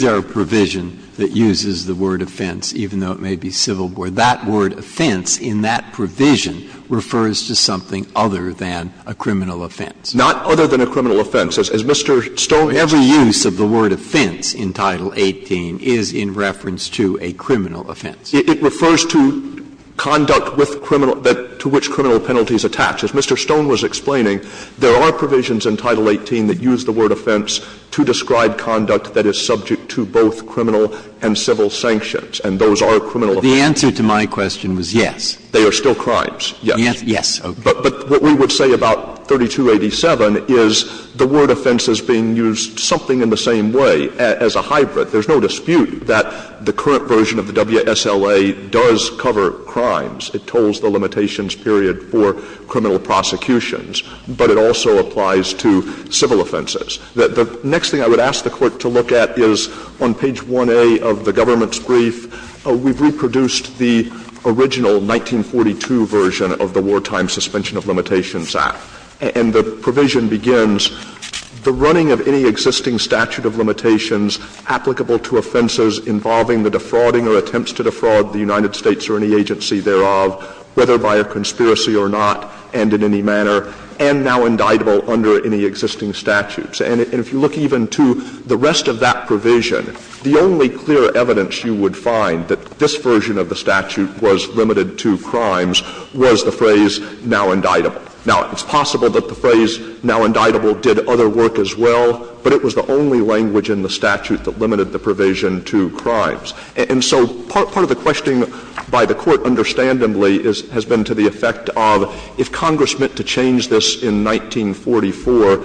there a provision that uses the word offense, even though it may be civil? That word offense in that provision refers to something other than a criminal offense. Not other than a criminal offense. As Mr. Stone has said. Every use of the word offense in Title 18 is in reference to a criminal offense. It refers to conduct with criminal, to which criminal penalties attach. As Mr. Stone was explaining, there are provisions in Title 18 that use the word offense to describe conduct that is subject to both criminal and civil sanctions, and those are criminal offenses. The answer to my question was yes. They are still crimes, yes. Yes, okay. But what we would say about 3287 is the word offense is being used something in the same way as a hybrid. There's no dispute that the current version of the WSLA does cover crimes. It tolls the limitations period for criminal prosecutions. But it also applies to civil offenses. The next thing I would ask the Court to look at is on page 1A of the government's statute, we've reproduced the original 1942 version of the Wartime Suspension of Limitations Act. And the provision begins, the running of any existing statute of limitations applicable to offenses involving the defrauding or attempts to defraud the United States or any agency thereof, whether by a conspiracy or not, and in any manner, and now indictable under any existing statutes. And if you look even to the rest of that provision, the only clear evidence you would find that this version of the statute was limited to crimes was the phrase, now indictable. Now, it's possible that the phrase, now indictable, did other work as well, but it was the only language in the statute that limited the provision to crimes. And so part of the question by the Court, understandably, has been to the effect of if Congress meant to change this in 1944,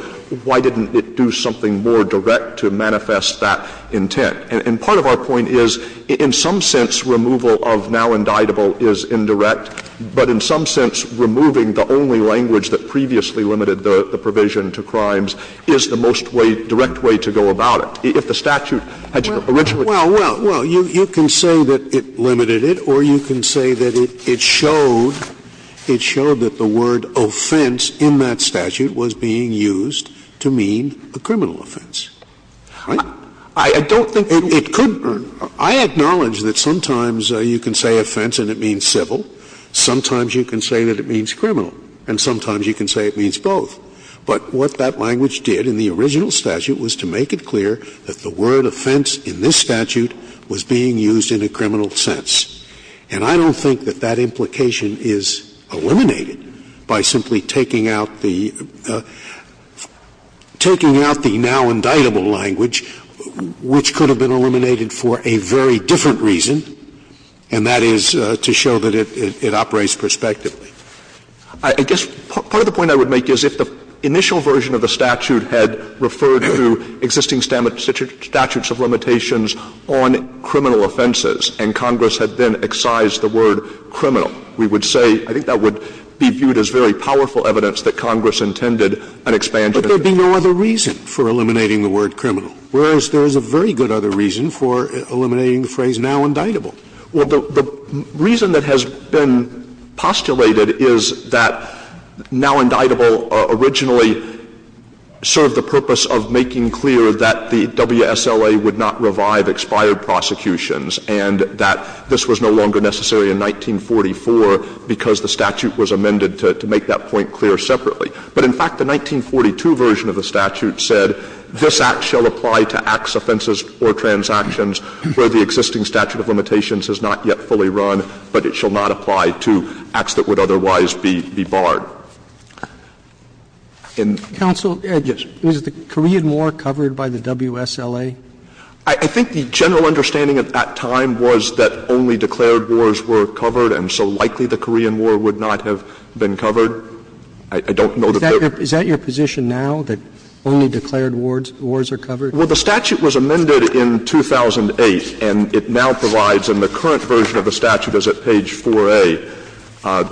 why didn't it do something more direct to manifest that intent? And part of our point is, in some sense, removal of now indictable is indirect, but in some sense, removing the only language that previously limited the provision to crimes is the most way, direct way to go about it. If the statute had originally been... Scalia. Well, well, well, you can say that it limited it or you can say that it showed, it showed that the word offense in that statute was being used to mean a criminal offense. Right? I don't think it could. I acknowledge that sometimes you can say offense and it means civil. Sometimes you can say that it means criminal. And sometimes you can say it means both. But what that language did in the original statute was to make it clear that the word offense in this statute was being used in a criminal sense. And I don't think that that implication is eliminated by simply taking out the, taking out the word criminal, which could have been eliminated for a very different reason, and that is to show that it operates prospectively. I guess part of the point I would make is if the initial version of the statute had referred to existing statutes of limitations on criminal offenses and Congress had then excised the word criminal, we would say, I think that would be viewed as very powerful evidence that Congress intended an expansion of the statute. But there would be no other reason for eliminating the word criminal, whereas there is a very good other reason for eliminating the phrase now indictable. Well, the reason that has been postulated is that now indictable originally served the purpose of making clear that the WSLA would not revive expired prosecutions and that this was no longer necessary in 1944 because the statute was amended to make that point clear separately. But, in fact, the 1942 version of the statute said this Act shall apply to Acts offenses or transactions where the existing statute of limitations has not yet fully run, but it shall not apply to Acts that would otherwise be barred. And yes. Counsel, is the Korean War covered by the WSLA? I think the general understanding at that time was that only declared wars were covered and so likely the Korean War would not have been covered. I don't know that there — Is that your position now, that only declared wars are covered? Well, the statute was amended in 2008 and it now provides, and the current version of the statute is at page 4A.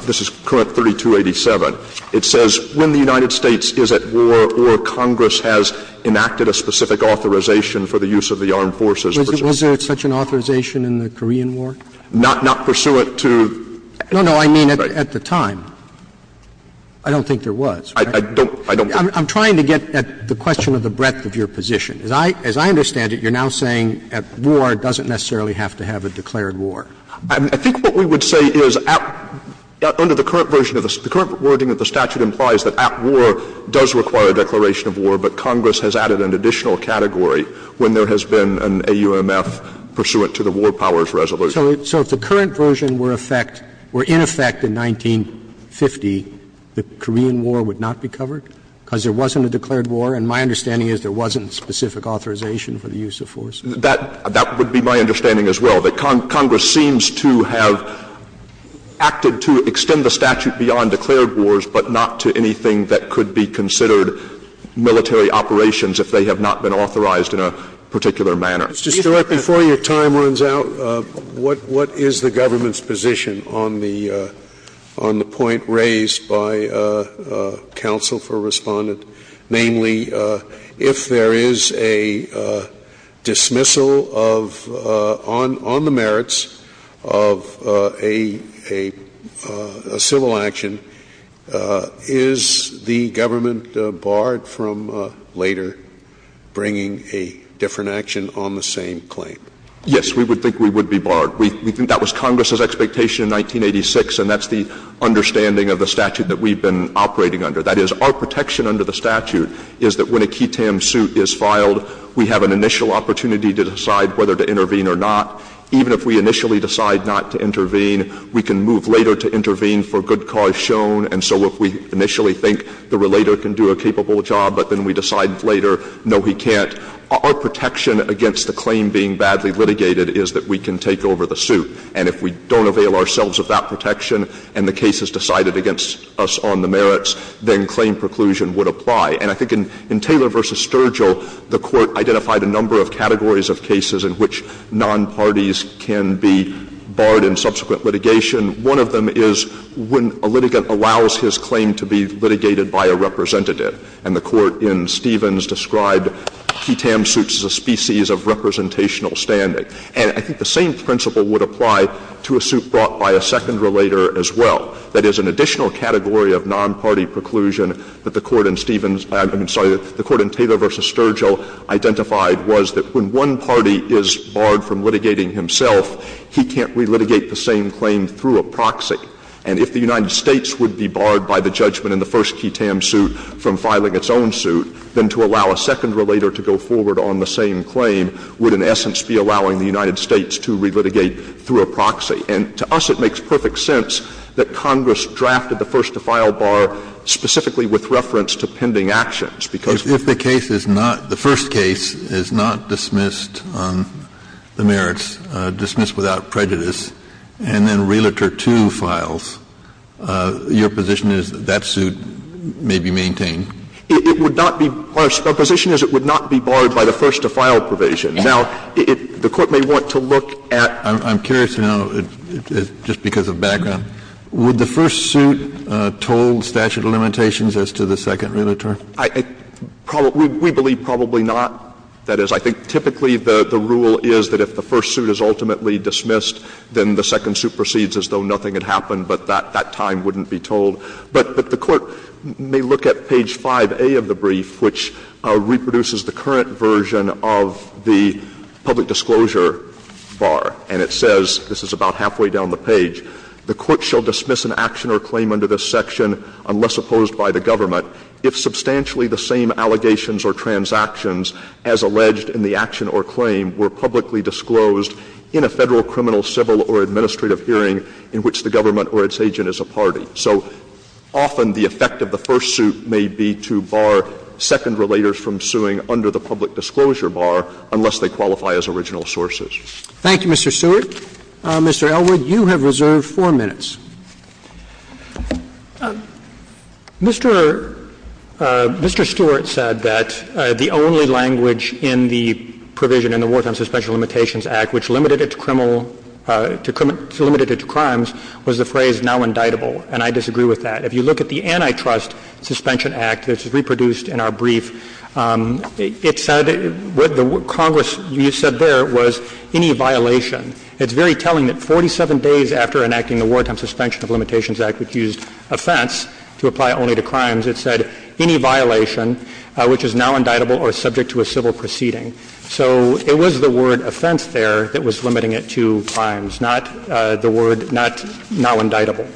This is current 3287. It says when the United States is at war or Congress has enacted a specific authorization for the use of the armed forces. Was there such an authorization in the Korean War? Not pursuant to — No, no. I mean at the time. I don't think there was. I don't. I'm trying to get at the question of the breadth of your position. As I understand it, you're now saying at war doesn't necessarily have to have a declared war. I think what we would say is under the current version of the — the current wording of the statute implies that at war does require a declaration of war, but Congress has added an additional category when there has been an AUMF pursuant to the War Powers Resolution. So if the current version were in effect in 1950, the Korean War would not be covered because there wasn't a declared war, and my understanding is there wasn't specific authorization for the use of force? That would be my understanding as well, that Congress seems to have acted to extend the statute beyond declared wars, but not to anything that could be considered military operations if they have not been authorized in a particular manner. Mr. Stewart, before your time runs out, what is the government's position on the point raised by counsel for Respondent? Namely, if there is a dismissal of — on the merits of a civil action, is the government barred from later bringing a different action on the same claim? Yes, we would think we would be barred. We think that was Congress's expectation in 1986, and that's the understanding of the statute that we've been operating under. That is, our protection under the statute is that when a ketam suit is filed, we have an initial opportunity to decide whether to intervene or not. Even if we initially decide not to intervene, we can move later to intervene for good cause shown, and so if we initially think the relator can do a capable job, but then we decide later, no, he can't, our protection against the claim being badly litigated is that we can take over the suit. And if we don't avail ourselves of that protection and the case is decided against us on the merits, then claim preclusion would apply. And I think in Taylor v. Sturgill, the Court identified a number of categories of cases in which nonparties can be barred in subsequent litigation. One of them is when a litigant allows his claim to be litigated by a representative. And the Court in Stevens described ketam suits as a species of representational standing. And I think the same principle would apply to a suit brought by a second relator as well. That is, an additional category of nonparty preclusion that the Court in Stevens — I'm sorry, the Court in Taylor v. Sturgill identified was that when one party is barred from litigating himself, he can't relitigate the same claim through a proxy. And if the United States would be barred by the judgment in the first ketam suit from filing its own suit, then to allow a second relator to go forward on the same claim would in essence be allowing the United States to relitigate through a proxy. And to us, it makes perfect sense that Congress drafted the first-to-file bar specifically with reference to pending actions, because we're not going to do that. Kennedy. If the case is not — the first case is not dismissed on the merits, dismissed without prejudice, and then Relator 2 files, your position is that that suit may be maintained? It would not be — our position is it would not be barred by the first-to-file provision. Now, it — the Court may want to look at — I'm curious to know, just because of background, would the first suit told statute of limitations as to the second relator? I — we believe probably not. That is, I think typically the rule is that if the first suit is ultimately dismissed, then the second suit proceeds as though nothing had happened, but that time wouldn't be told. But the Court may look at page 5A of the brief, which reproduces the current version of the public disclosure bar, and it says, this is about halfway down the page, the Court shall dismiss an action or claim under this section unless opposed by the government if substantially the same allegations or transactions as alleged in the action or claim were publicly disclosed in a Federal criminal, civil, or administrative hearing in which the government or its agent is a party. So often the effect of the first suit may be to bar second relators from suing under the public disclosure bar unless they qualify as original sources. Thank you, Mr. Stewart. Mr. Elwood, you have reserved 4 minutes. Mr. Stewart said that the only language in the provision in the Wartime Suspension Limitations Act which limited it to criminal — limited it to crimes was the phrase now indictable. And I disagree with that. If you look at the Antitrust Suspension Act, which is reproduced in our brief, it said — what the Congress used said there was any violation. It's very telling that 47 days after enacting the Wartime Suspension of Limitations Act which used offense to apply only to crimes, it said any violation which is now indictable or subject to a civil proceeding. So it was the word offense there that was limiting it to crimes, not the word not — now indictable.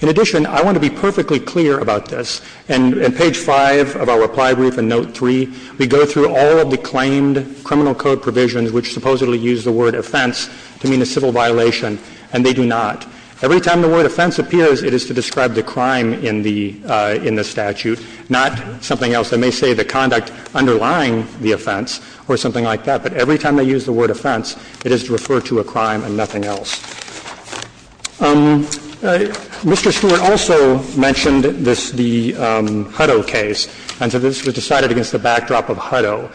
In addition, I want to be perfectly clear about this. In page 5 of our reply brief in note 3, we go through all of the claimed criminal code provisions which supposedly use the word offense to mean a civil violation, and they do not. Every time the word offense appears, it is to describe the crime in the — in the statute, not something else. They may say the conduct underlying the offense or something like that, but every time they use the word offense, it is to refer to a crime and nothing else. Mr. Stewart also mentioned this — the Hutto case, and so this was decided against the backdrop of Hutto.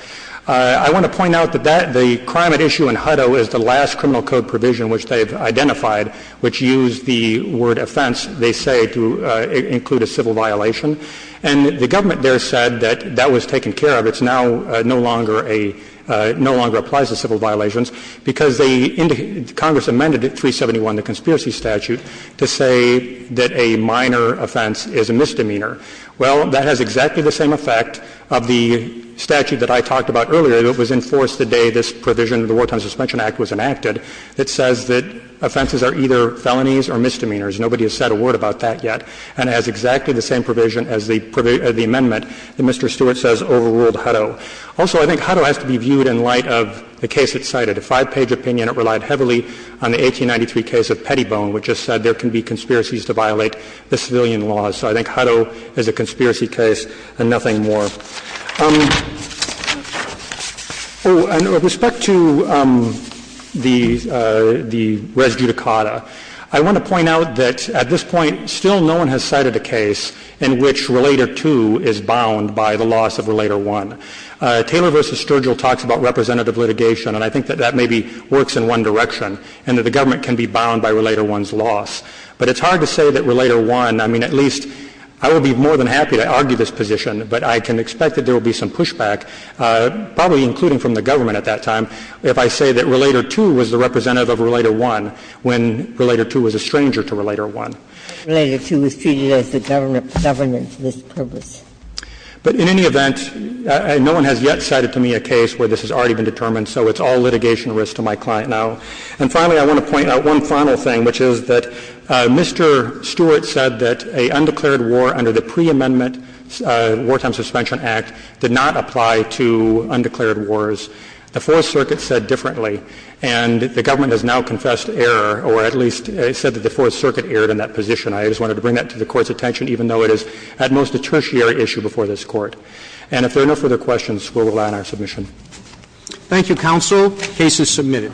I want to point out that that — the crime at issue in Hutto is the last criminal code provision which they've identified which used the word offense, they say, to include a civil violation. And the government there said that that was taken care of. It's now no longer a — no longer applies to civil violations because they — Congress amended it, 371, the conspiracy statute, to say that a minor offense is a misdemeanor. Well, that has exactly the same effect of the statute that I talked about earlier that was enforced the day this provision of the Wartime Suspension Act was enacted that says that offenses are either felonies or misdemeanors. Nobody has said a word about that yet. And it has exactly the same provision as the amendment that Mr. Stewart says overruled Hutto. Also, I think Hutto has to be viewed in light of the case it cited. A five-page opinion, it relied heavily on the 1893 case of Pettibone, which just said there can be conspiracies to violate the civilian laws. So I think Hutto is a conspiracy case and nothing more. Oh, and with respect to the res judicata, I want to point out that at this point, still no one has cited a case in which Relator 2 is bound by the loss of Relator 1. Taylor v. Sturgill talks about representative litigation, and I think that that maybe works in one direction, and that the government can be bound by Relator 1's loss. But it's hard to say that Relator 1 — I mean, at least — I would be more than happy to argue this position, but I can expect that there will be some pushback, probably including from the government at that time, if I say that Relator 2 was the representative of Relator 1 when Relator 2 was a stranger to Relator 1. Relator 2 is treated as the government's governance mispurpose. But in any event, no one has yet cited to me a case where this has already been determined, so it's all litigation risk to my client now. And finally, I want to point out one final thing, which is that Mr. Stewart said that an undeclared war under the pre-amendment Wartime Suspension Act did not apply to undeclared wars. The Fourth Circuit said differently, and the government has now confessed error, or at least said that the Fourth Circuit erred in that position. I just wanted to bring that to the Court's attention, even though it is, at most, a tertiary issue before this Court. And if there are no further questions, we'll move on to our submission. Thank you, counsel. The case is submitted.